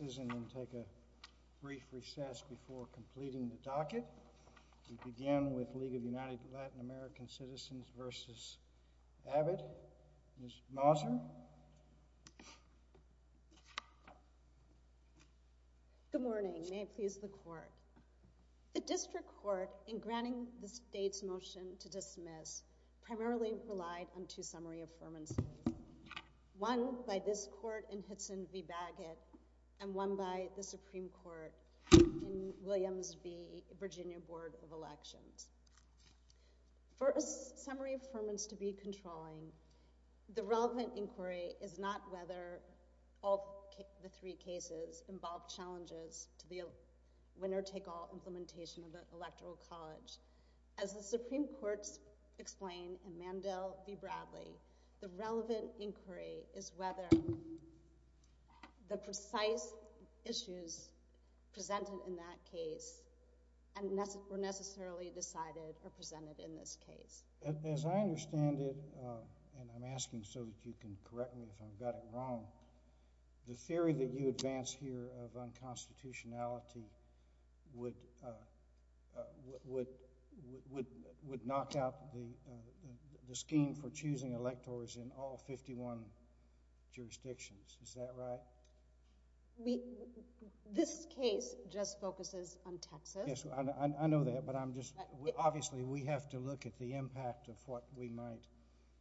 and then take a brief recess before completing the docket. We begin with League of United Latin American Citizens v. Abbott. Ms. Mouser. Good morning. May it please the court. The District Court, in granting the state's motion to dismiss, primarily relied on two summary affirmants, one by this court in Hitson v. Baggett and one by the Supreme Court in Williams v. Virginia Board of Elections. For a summary affirmance to be controlling, the relevant inquiry is not whether all three cases involve challenges to the winner-take-all implementation of the Electoral College. As the Supreme Court's explain in Mandel v. Bradley, the relevant inquiry is whether the precise issues presented in that case were necessarily decided or presented in this case. As I understand it, and I'm asking so that you can correct me if I've got it wrong, the theory that you advance here of unconstitutionality would, would, would knock out the scheme for choosing electors in all 51 jurisdictions. Is that right? We, this case just focuses on Texas. Yes, I know that, but I'm just, obviously we have to look at the impact of what we might.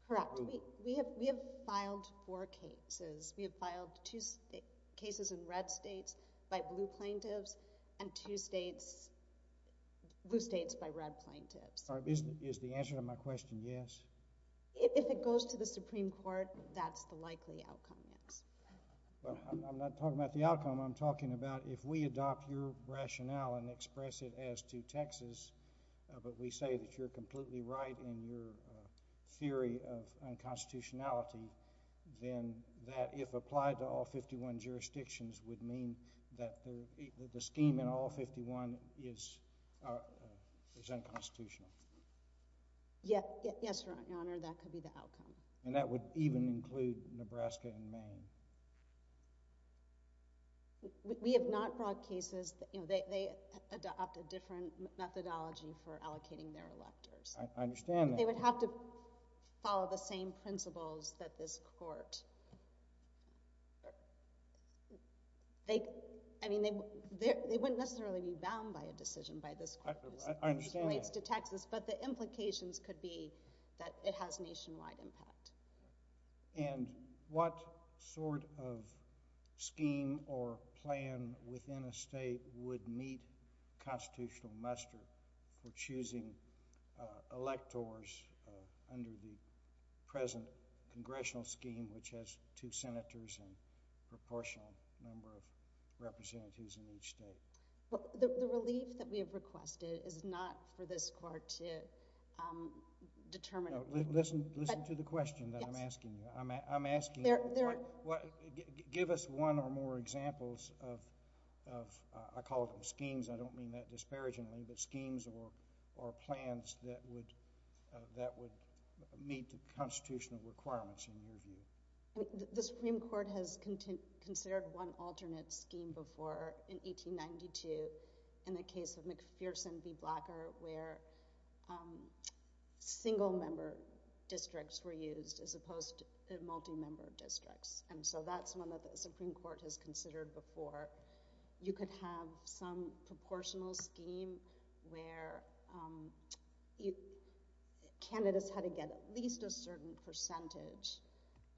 Correct. We, we have, we have filed four cases. We have filed two cases in red states by blue plaintiffs and two states, blue states by red plaintiffs. Is, is the answer to my question yes? If it goes to the Supreme Court, that's the likely outcome, yes. Well, I'm, I'm not talking about the outcome. I'm talking about if we adopt your rationale and express it as to Texas, but we say that you're completely right in your theory of unconstitutionality, then that if applied to all 51 jurisdictions would mean that the, that the scheme in all 51 is, is unconstitutional. Yeah, yes, Your Honor, that could be the outcome. And that would even include Nebraska and Maine. We have not brought cases, you know, they, they adopted different methodology for allocating their electors. I, I understand that. They would have to follow the same principles that this Court, they, I mean, they, they, they wouldn't necessarily be bound by a decision by this Court. I, I understand that. This relates to Texas, but the implications could be that it has nationwide impact. And what sort of scheme or plan within a state would meet constitutional muster for choosing, uh, electors, uh, under the present congressional scheme which has two senators and proportional number of representatives in each state? Well, the, the relief that we have requested is not for this Court to, um, determine. No, listen, listen to the question that I'm asking you. I'm, I'm asking you. There, there. Give us one or more examples of, of, uh, I call it schemes. I don't mean that disparagingly, but schemes or, or plans that would, uh, that would meet the constitutional requirements in your view. The Supreme Court has content, considered one alternate scheme before in 1892 in the case of McPherson v. Blacker where, um, single member districts were used as opposed to multi-member districts. And so that's one that the Supreme Court has considered before. You could have some proportional scheme where, um, you, candidates had to get at least a certain percentage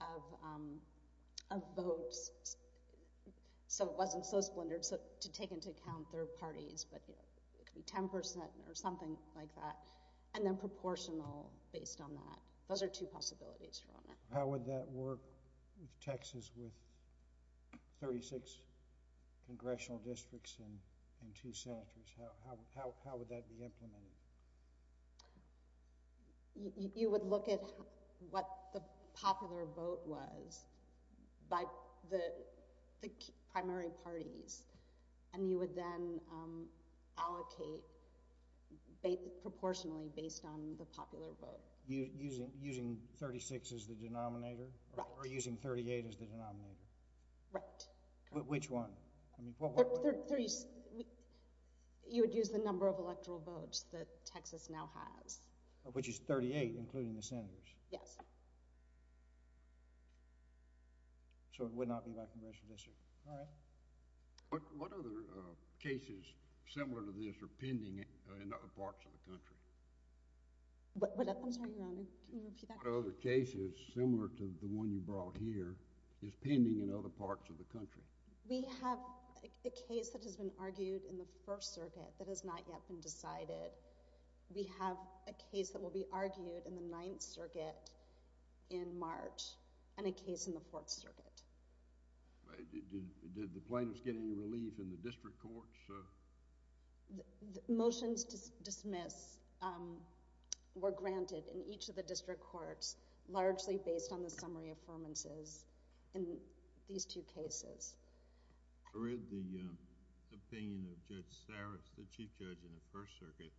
of, um, of votes. So it wasn't so splintered to take into account third parties, but, you know, it could be 10% or something like that. And then proportional based on that. Those are two possibilities. How would that work with Texas with 36 congressional districts and, and two senators? How, how, how, how would that be implemented? You would look at what the popular vote was by the, the primary parties and you would then, um, allocate based, proportionally based on the popular vote. Using, using 36 as the denominator? Right. Or using 38 as the denominator? Right. Which one? I mean, what, what? You would use the number of electoral votes that Texas now has. Which is 38 including the senators? Yes. So it would not be by congressional district. All right. What, what other, uh, cases similar to this are pending, uh, in other parts of the country? What, what? I'm sorry, Your Honor, can you repeat that? What other cases similar to the one you brought here is pending in other parts of the country? We have a case that has been argued in the First Circuit that has not yet been decided. We have a case that will be argued in the Ninth Circuit in March and a case in the Fourth Circuit. Did, did, did the plaintiffs get any relief in the district courts? Motions to dismiss, um, were granted in each of the district courts largely based on the First Circuit,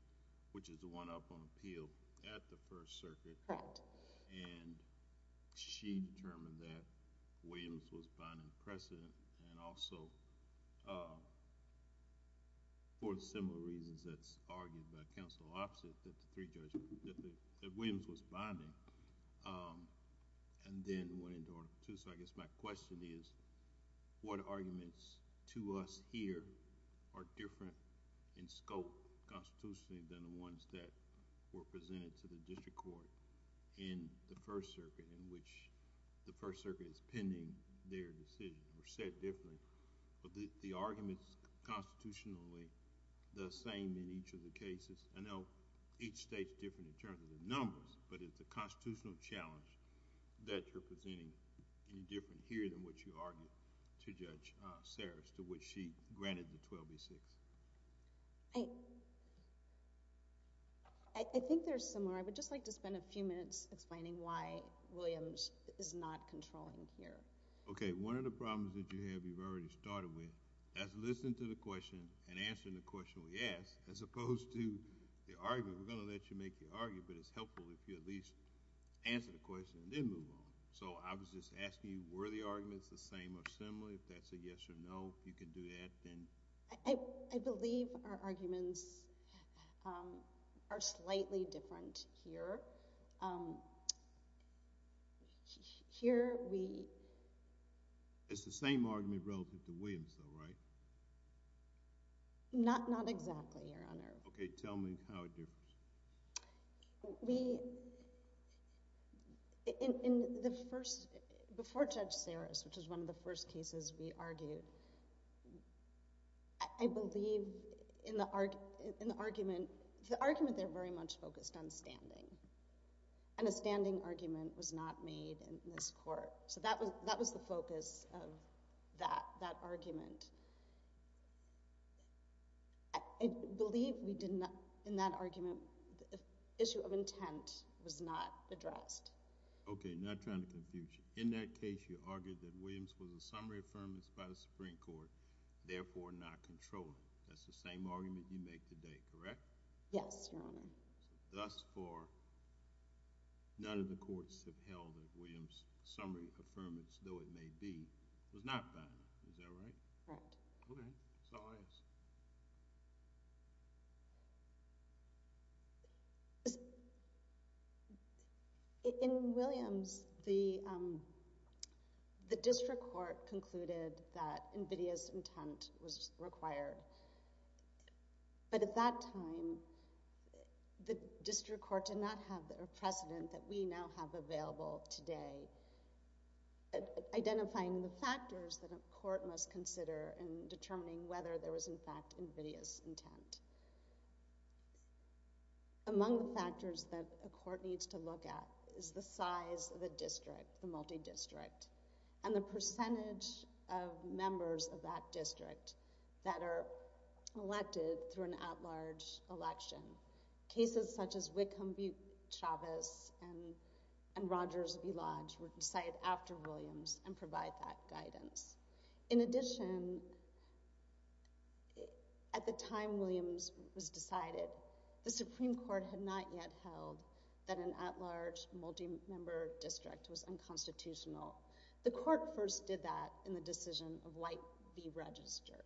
which is the one up on appeal at the First Circuit. Correct. And she determined that Williams was binding precedent and also, uh, for similar reasons that's argued by counsel opposite that the three judges, that the, that Williams was binding, um, and then went into the court. So, I guess my question is, what arguments to us here are different in scope constitutionally than the ones that were presented to the district court in the First Circuit in which the First Circuit is pending their decision or said differently, but the, the arguments constitutionally the same in each of the cases. I know each state's different in terms of the numbers, but it's a constitutional challenge that you're presenting any different here than what you argued to Judge, uh, Saris, to which she granted the 12B6. I, I think they're similar. I would just like to spend a few minutes explaining why Williams is not controlling here. Okay, one of the problems that you have, you've already started with, that's listening to the question and answering the question, yes, as opposed to the argument. We're going to let you make your argument, but it's helpful if you at least answer the question and then move on. So, I was just asking you, were the arguments the same or similar? If that's a yes or no, if you can do that, then. I, I believe our arguments, um, are slightly different here. Um, here we. It's the same argument relative to Williams though, right? Not, not exactly, Your Honor. Okay, tell me how it differs. We, in, in the first, before Judge Saris, which is one of the first cases we argued, I believe in the, in the argument, the argument there very much focused on standing, and a standing argument was not made in this court. So, that was, that was the focus of that, that argument. I, I believe we did not, in that argument, the issue of intent was not addressed. Okay, not trying to confuse you. In that case, you argued that Williams was a summary affirmance by the Supreme Court, therefore not controllable. That's the same argument you make today, correct? Yes, Your Honor. Thus far, none of the courts have held that Williams' summary affirmance, though it may be, was not valid, is that right? Correct. Okay, Saris. In Williams, the, um, the district court concluded that NVIDIA's intent was required, but at that time, the district court did not have the precedent that we now have available today at identifying the factors that a court must consider in determining whether there was, in fact, NVIDIA's intent. Among the factors that a court needs to look at is the size of the district, the multi-district, and the percentage of members of that district that are elected through an at-large election. Cases such as Wickham v. Chavez and Rogers v. Lodge were decided after Williams and provide that guidance. In addition, at the time Williams was decided, the Supreme Court had not yet held that an at-large multi-member district was unconstitutional. The court first did that in the decision of Light v. Register.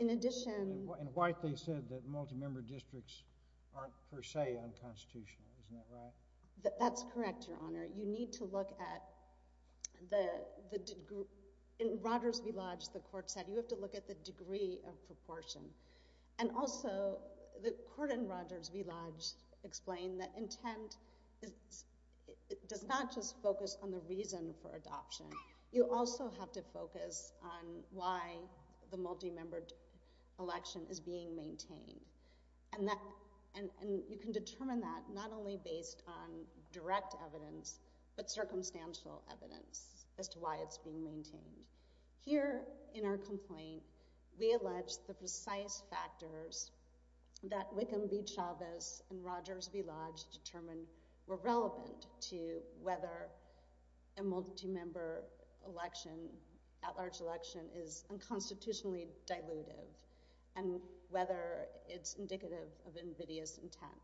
In addition— In White, they said that multi-member districts aren't per se unconstitutional, isn't that right? That's correct, Your Honor. You need to look at the degree—in Rogers v. Lodge, the court said you have to look at the degree of proportion. And also, the court in Rogers v. Lodge explained that intent does not just focus on the reason for adoption. You also have to look at the focus on why the multi-member election is being maintained. And you can determine that not only based on direct evidence, but circumstantial evidence as to why it's being maintained. Here in our complaint, we allege the precise factors that Wickham v. Chavez and Rogers v. At-Large election is unconstitutionally dilutive and whether it's indicative of invidious intent.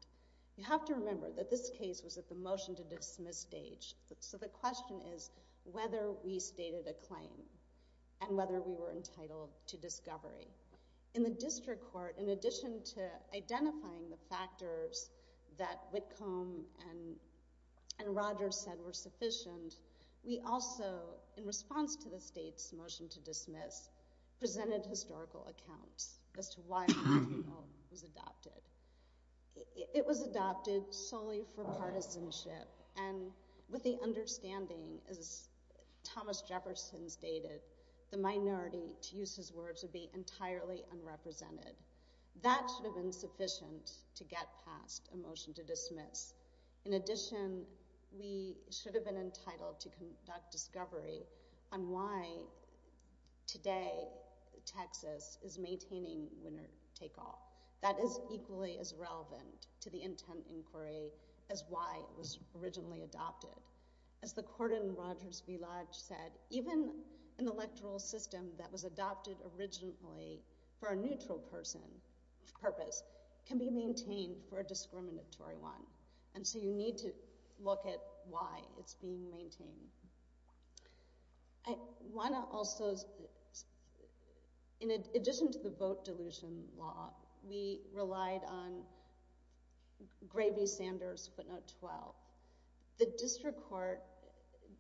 You have to remember that this case was at the motion-to-dismiss stage, so the question is whether we stated a claim and whether we were entitled to discovery. In the district court, in addition to identifying the factors that Wickham and Rogers said were motion-to-dismiss, presented historical accounts as to why it was adopted. It was adopted solely for partisanship and with the understanding, as Thomas Jefferson stated, the minority, to use his words, would be entirely unrepresented. That should have been sufficient to get past a motion-to-dismiss. In addition, we should have been entitled to conduct discovery on why, today, Texas is maintaining winner-take-all. That is equally as relevant to the intent inquiry as why it was originally adopted. As the court in Rogers v. Lodge said, even an electoral system that was adopted originally for a neutral purpose can be maintained for a discriminatory one. And so you need to look at why it's being maintained. I want to also, in addition to the vote dilution law, we relied on Gravey-Sanders footnote 12. The district court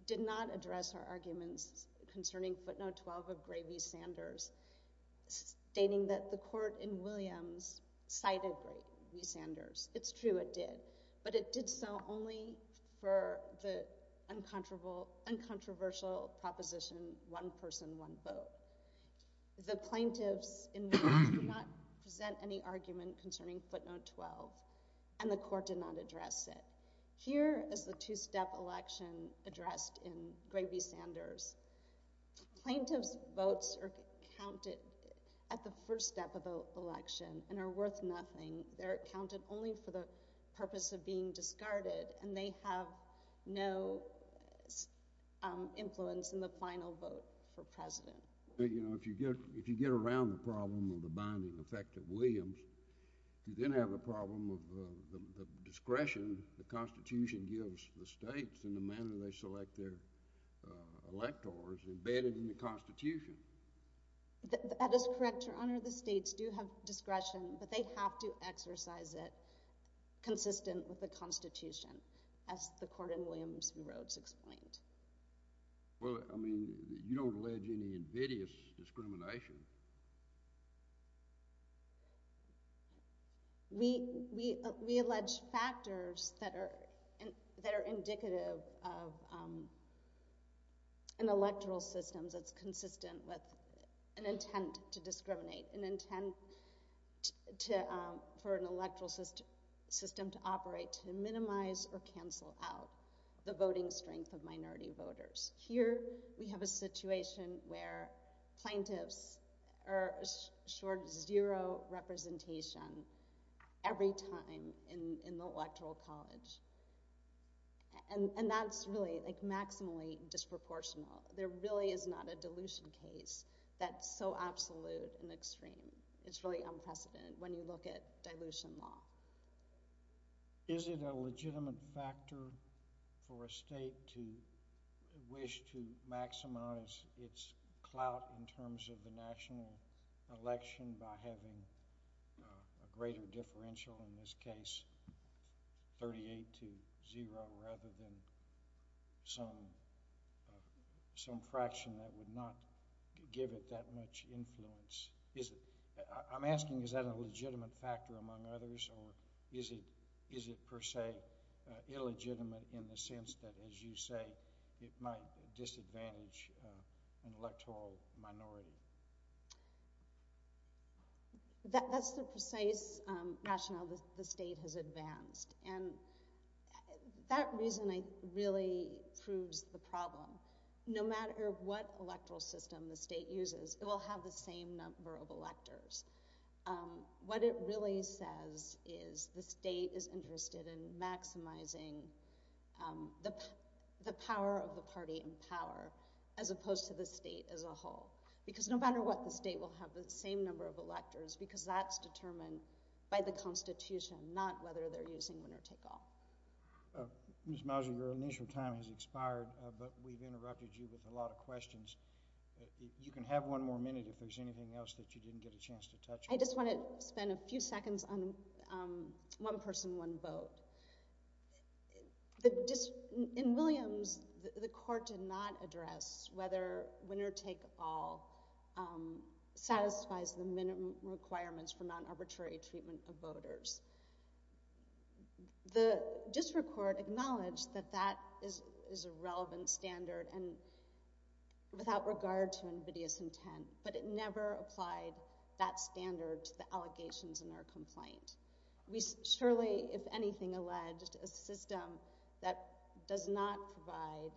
did not address our arguments concerning footnote 12 of Gravey-Sanders, stating that the court in Williams cited Gravey-Sanders. It's true it did, but it did only for the uncontroversial proposition one person, one vote. The plaintiffs in Williams did not present any argument concerning footnote 12, and the court did not address it. Here is the two-step election addressed in Gravey-Sanders. Plaintiffs' votes are counted at the first step of an election and are worth nothing. They're counted only for the purpose of being discarded, and they have no influence in the final vote for president. If you get around the problem of the binding effect of Williams, you then have the problem of the discretion the Constitution gives the states in the manner they select their discretion, but they have to exercise it consistent with the Constitution, as the court in Williams and Rhodes explained. Well, I mean, you don't allege any invidious discrimination. We allege factors that are indicative of an electoral system that's consistent with an intent to discriminate, an intent for an electoral system to operate to minimize or cancel out the voting strength of minority voters. Here we have a situation where plaintiffs are assured zero representation every time in the electoral college, and that's really like maximally disproportional. There really is not a dilution case that's so absolute and extreme. It's really unprecedented when you look at dilution law. Is it a legitimate factor for a state to wish to maximize its clout in terms of the national election by having a greater differential, in this case, 38 to zero, rather than some fraction that would not give it that much influence? I'm asking, is that a legitimate factor among others, or is it per se illegitimate in the sense that, as you say, it might disadvantage an electoral minority? That's the precise rationale the state has advanced, and that reason really proves the problem. No matter what electoral system the state uses, it will have the same number of electors. What it really says is the state is interested in maximizing the power of the party in power, as opposed to the state as a whole, because no matter what, the state will have the same number of electors, because that's determined by the Constitution, not whether they're using winner-take-all. Ms. Mosley, your initial time has expired, but we've interrupted you with a lot of questions. You can have one more minute if there's anything else that you didn't get a chance to touch on. I just want to spend a few seconds on one person, one vote. In Williams, the court did not address whether winner-take-all satisfies the minimum requirements for non-arbitrary treatment of voters. The district court acknowledged that that is a relevant standard and without regard to invidious intent, but it never applied that standard to the allegations in our complaint. We surely, if anything, alleged a system that does not provide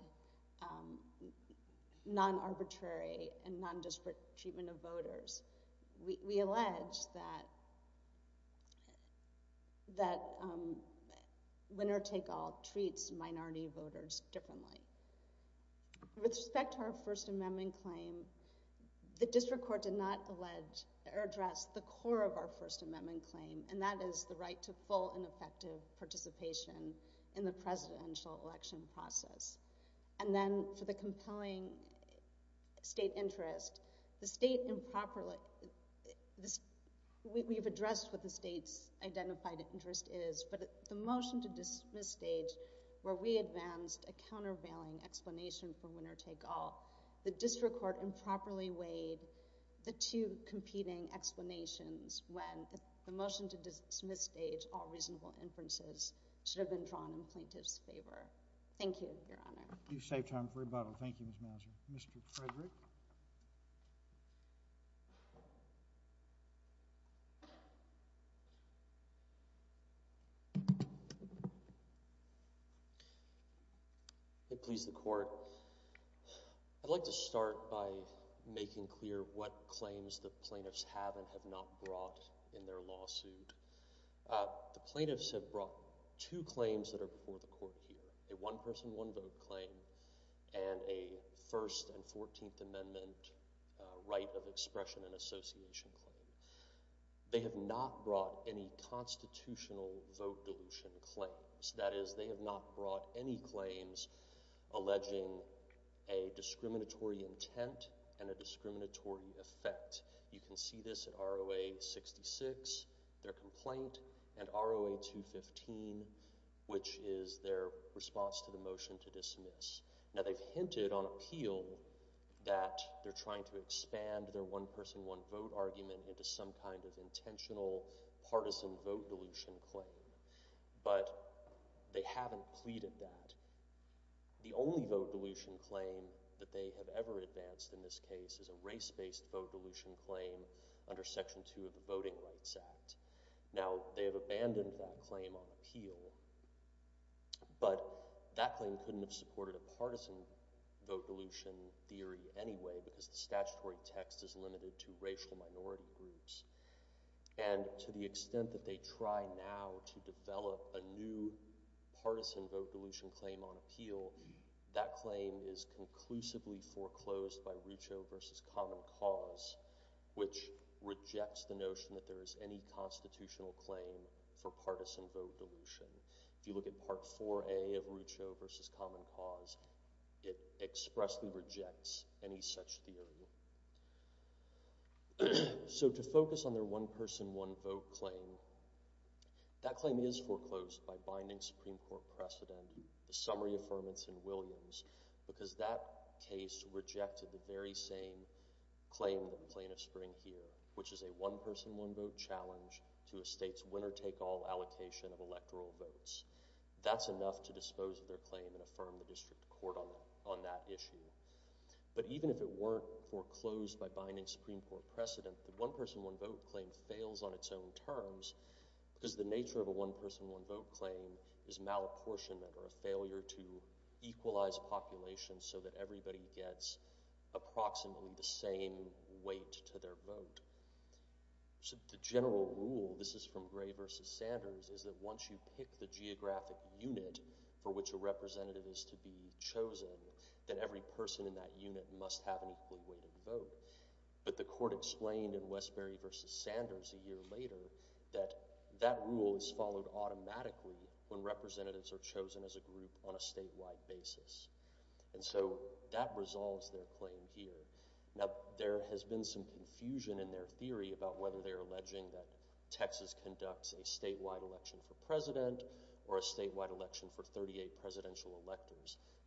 non-arbitrary and non-disparate treatment of voters. We allege that that winner-take-all treats minority voters differently. With respect to our First Amendment claim, the district court did not allege or address the core of our First Amendment claim, and that is the right to full and effective participation in the presidential election process. And then, for the compelling state interest, we've addressed what the state's identified interest is, but the motion to dismiss stage where we advanced a countervailing explanation for winner-take-all, the district court improperly weighed the two competing explanations when the motion to dismiss stage all reasonable inferences should have been drawn in plaintiff's favor. Thank you, Your Honor. You saved time for rebuttal. Thank you, Your Honor. May it please the Court. I'd like to start by making clear what claims the plaintiffs have and have not brought in their lawsuit. The plaintiffs have brought two claims that are before the Court here, a one-person, one-vote claim and a First and Fourteenth Amendment right of association claim. They have not brought any constitutional vote dilution claims. That is, they have not brought any claims alleging a discriminatory intent and a discriminatory effect. You can see this in R.O.A. 66, their complaint, and R.O.A. 215, which is their response to the one-person, one-vote argument into some kind of intentional partisan vote dilution claim, but they haven't pleaded that. The only vote dilution claim that they have ever advanced in this case is a race-based vote dilution claim under Section 2 of the Voting Rights Act. Now, they have abandoned that claim on appeal, but that claim couldn't have supported a partisan vote dilution theory anyway because the statutory text is limited to racial minority groups. And to the extent that they try now to develop a new partisan vote dilution claim on appeal, that claim is conclusively foreclosed by Rucho v. Common Cause, which rejects the notion that there is any constitutional claim for partisan vote dilution. If you look at Part 4A of Rucho v. Common Cause, it expressly rejects any such theory. So, to focus on their one-person, one-vote claim, that claim is foreclosed by binding Supreme Court precedent, the summary affirmance in Williams, because that case rejected the very same claim in the Plain of Spring here, which is a one-person, one-vote challenge to a state's winner-take-all allocation of electoral claim and affirm the district court on that issue. But even if it weren't foreclosed by binding Supreme Court precedent, the one-person, one-vote claim fails on its own terms because the nature of a one-person, one-vote claim is malapportionment or a failure to equalize population so that everybody gets approximately the same weight to their vote. So, the general rule, this is from Gray v. Sanders, is that once you pick the geographic unit for which a representative is to be chosen, that every person in that unit must have an equally weighted vote. But the court explained in Westbury v. Sanders a year later that that rule is followed automatically when representatives are chosen as a group on a statewide basis. And so, that resolves their claim here. Now, there has been some confusion in their theory about whether they're alleging that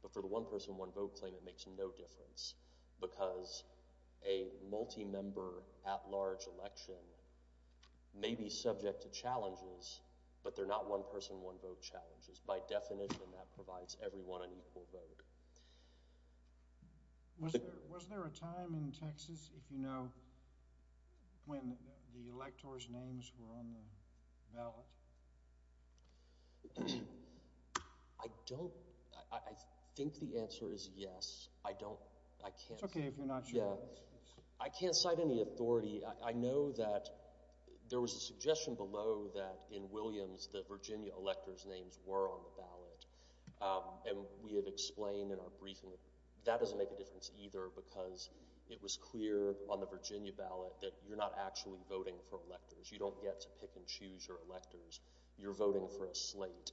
but for the one-person, one-vote claim, it makes no difference because a multi-member at-large election may be subject to challenges, but they're not one-person, one-vote challenges. By definition, that provides everyone an equal vote. Was there a time in Texas, if you know, when the electors' names were on the ballot? I don't. I think the answer is yes. I don't. I can't. It's okay if you're not sure. Yeah. I can't cite any authority. I know that there was a suggestion below that in Williams that Virginia electors' names were on the ballot. And we have explained in our briefing that doesn't make a difference either because it was clear on the Virginia ballot that you're not actually voting for electors. You're voting for a slate,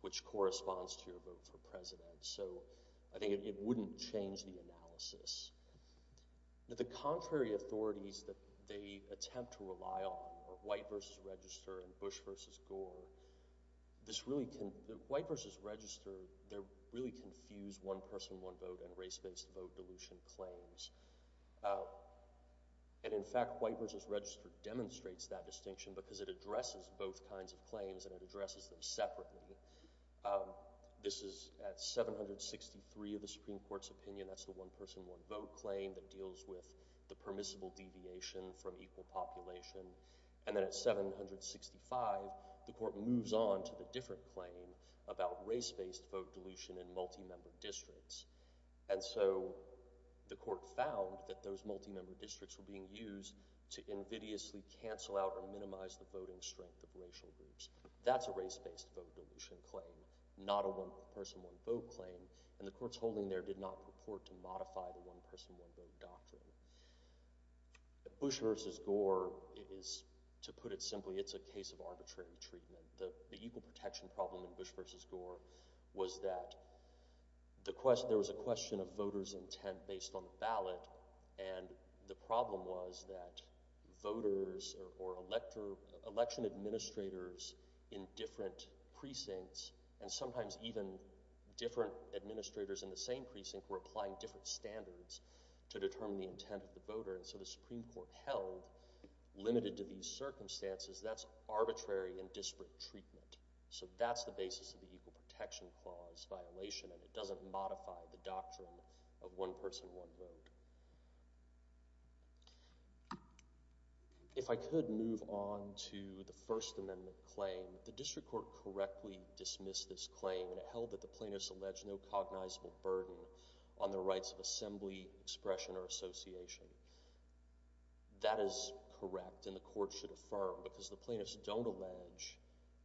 which corresponds to your vote for president. So, I think it wouldn't change the analysis. The contrary authorities that they attempt to rely on are White v. Register and Bush v. Gore. White v. Register, they really confuse one-person, one-vote and race-based vote dilution claims. And in fact, White v. Register demonstrates that and it addresses them separately. This is at 763 of the Supreme Court's opinion. That's the one-person, one-vote claim that deals with the permissible deviation from equal population. And then at 765, the court moves on to the different claim about race-based vote dilution in multi-member districts. And so, the court found that those multi-member districts were used to invidiously cancel out or minimize the voting strength of racial groups. That's a race- based vote dilution claim, not a one-person, one-vote claim. And the courts holding there did not purport to modify the one-person, one-vote doctrine. Bush v. Gore is, to put it simply, it's a case of arbitrary treatment. The equal protection problem in Bush v. Gore was that the question, there was a question of voters' intent based on the ballot and the problem was that voters or election administrators in different precincts and sometimes even different administrators in the same precinct were applying different standards to determine the intent of the voter. And so, the Supreme Court held, limited to these circumstances, that's arbitrary and it doesn't modify the doctrine of one-person, one-vote. If I could move on to the First Amendment claim, the district court correctly dismissed this claim and it held that the plaintiffs allege no cognizable burden on the rights of assembly, expression, or association. That is correct and the court should affirm because the plaintiffs don't allege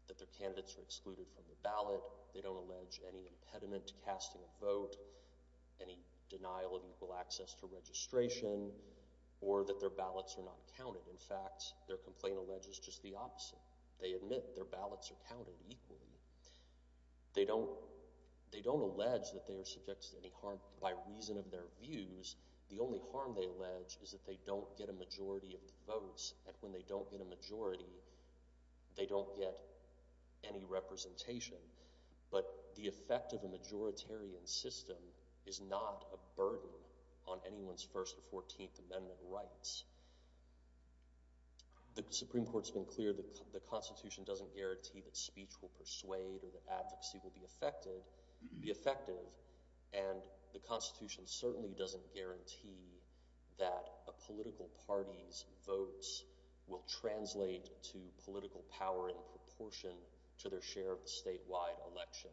that their candidates are excluded from the ballot, they don't allege any impediment to casting a vote, any denial of equal access to registration, or that their ballots are not counted. In fact, their complaint alleges just the opposite. They admit their ballots are counted equally. They don't, they don't allege that they are subject to any harm by reason of their views. The only harm they allege is that they don't get a majority of the votes and when they don't get a majority, they don't get any representation. But the effect of a majoritarian system is not a burden on anyone's First or Fourteenth Amendment rights. The Supreme Court's been clear that the Constitution doesn't guarantee that speech will persuade or that advocacy will be affected, be effective, and the Constitution certainly doesn't guarantee that a political party's votes will translate to political power in proportion to their share of the statewide election.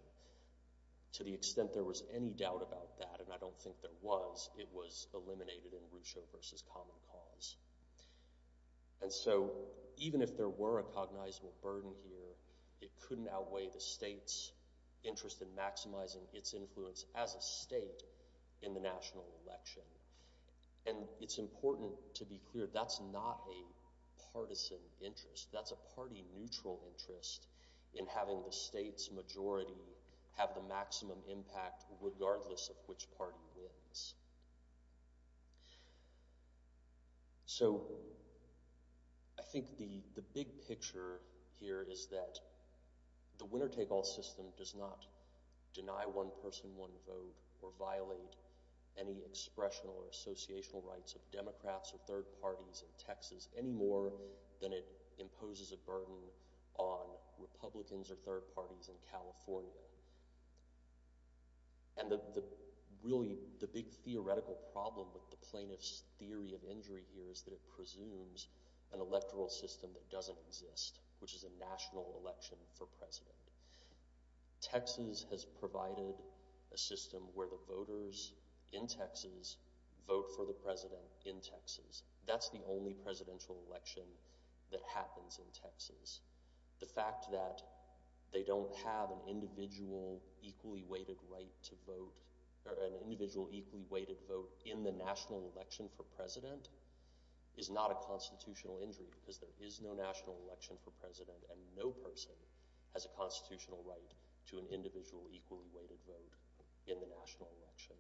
To the extent there was any doubt about that, and I don't think there was, it was eliminated in Russo v. Common Cause. And so even if there were a cognizable burden here, it couldn't outweigh the state's interest in maximizing its influence as a state in the national election. And it's important to be clear that's not a partisan interest. That's a party-neutral interest in having the state's majority have the maximum impact regardless of which party wins. So I think the big picture here is that the winner-take-all system does not deny one person one vote or violate any expressional or associational rights of Democrats or third parties in Texas any more than it imposes a burden on Republicans or third parties in California. And the big theoretical problem with the plaintiff's theory of injury here is that it presumes an electoral system that doesn't exist, which is a national election for president. Texas has provided a system where the voters in Texas vote for the president in Texas. That's the only presidential election that happens in Texas. The fact that they don't have an individual equally weighted vote in the national election for president is not a constitutional injury because there is no national election for president and no person has a constitutional right to an individual equally weighted vote in the national election.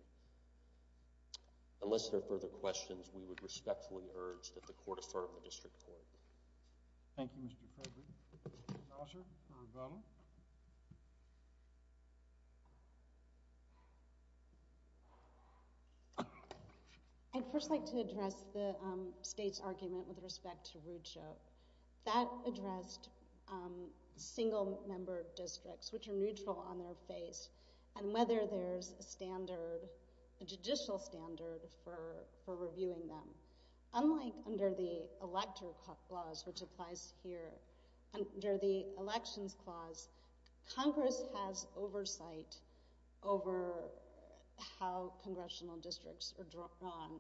Unless there are further questions, we would respectfully urge that the Court affirm the District Court. Thank you, Mr. Kroger. Counselor, for Rivella? I'd first like to address the State's argument with respect to Rucho. That addressed single-member districts, which are neutral on their face, and whether there's a standard, a judicial standard for reviewing them. Unlike under the Elector Clause, which applies here, under the Elections Clause, Congress has oversight over how congressional districts are drawn.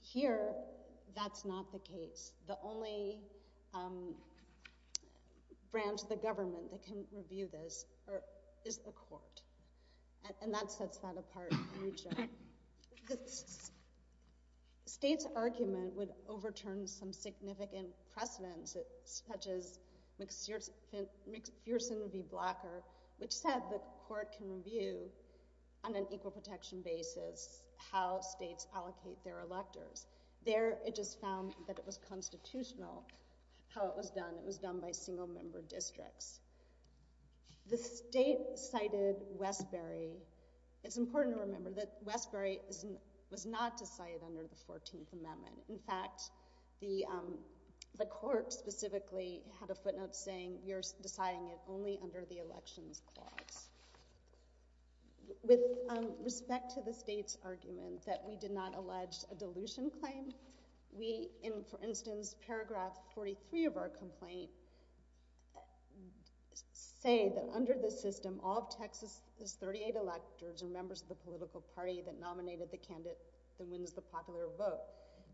Here, that's not the case. The only branch of the government that can review this is the Court, and that sets that apart for Rucho. The State's argument would overturn some significant precedents, such as McPherson v. Blocker, which said the Court can review on an equal protection basis how states allocate their electors. There, it just found that it was constitutional how it was done. It was done by single-member districts. The State cited Westbury. It's important to remember that Westbury was not decided under the 14th Amendment. In fact, the Court specifically had a footnote saying, you're deciding it only under the Elections Clause. With respect to the State's argument that we did not allege a dilution claim, we, in, for instance, paragraph 43 of our complaint, we say that under this system, all of Texas's 38 electors are members of the political party that nominated the candidate that wins the popular vote.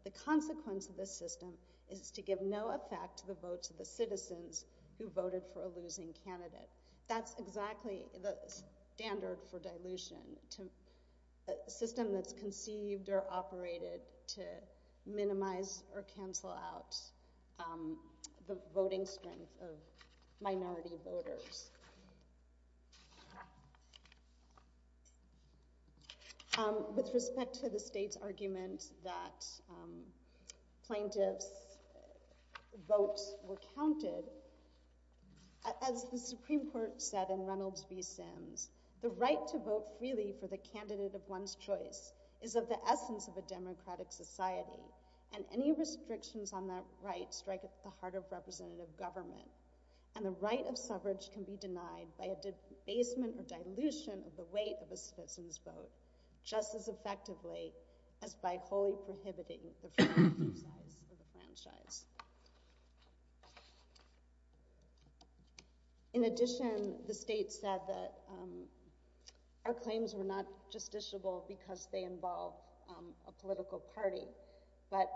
The consequence of this system is to give no effect to the votes of the citizens who voted for a losing candidate. That's exactly the standard for dilution, to a system that's conceived or operated to minimize or cancel out the voting strength of minority voters. With respect to the State's argument that plaintiffs' votes were counted, as the Supreme Court said in Reynolds v. Sims, the right to vote freely for the candidate of one's choice is of the essence of a democratic society, and any restrictions on that right strike at the heart of representative government, and the right of suffrage can be denied by a debasement or dilution of the weight of a citizen's vote, just as effectively as by wholly prohibiting the franchise of the franchise. In addition, the State said that our claims were not justiciable because they involve a political party, but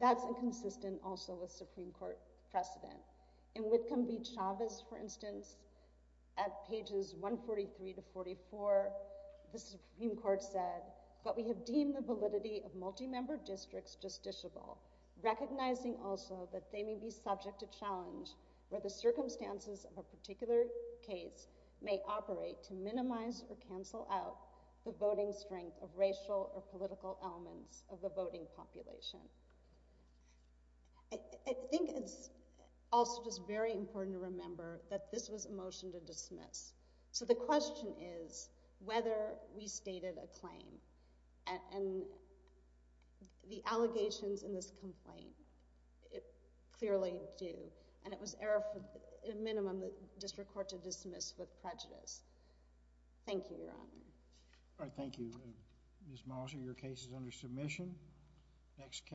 that's inconsistent also with Supreme Court precedent. In Whitcomb v. Chavez, for instance, at pages 143 to 44, the Supreme Court said, but we have deemed the validity of multi-member districts justiciable, recognizing also that they may be subject to challenge where the circumstances of a particular case may operate to minimize or cancel out the voting strength of racial or political elements of the voting population. I think it's also just very important to remember that this was a motion to dismiss, so the question is whether we stated a claim, and the allegations in this complaint, it clearly do, and it was error for, at a minimum, the District Court to dismiss with prejudice. Thank you, Your Honor. All right, thank you, Ms. Mollicer. Your case is under submission. Next case.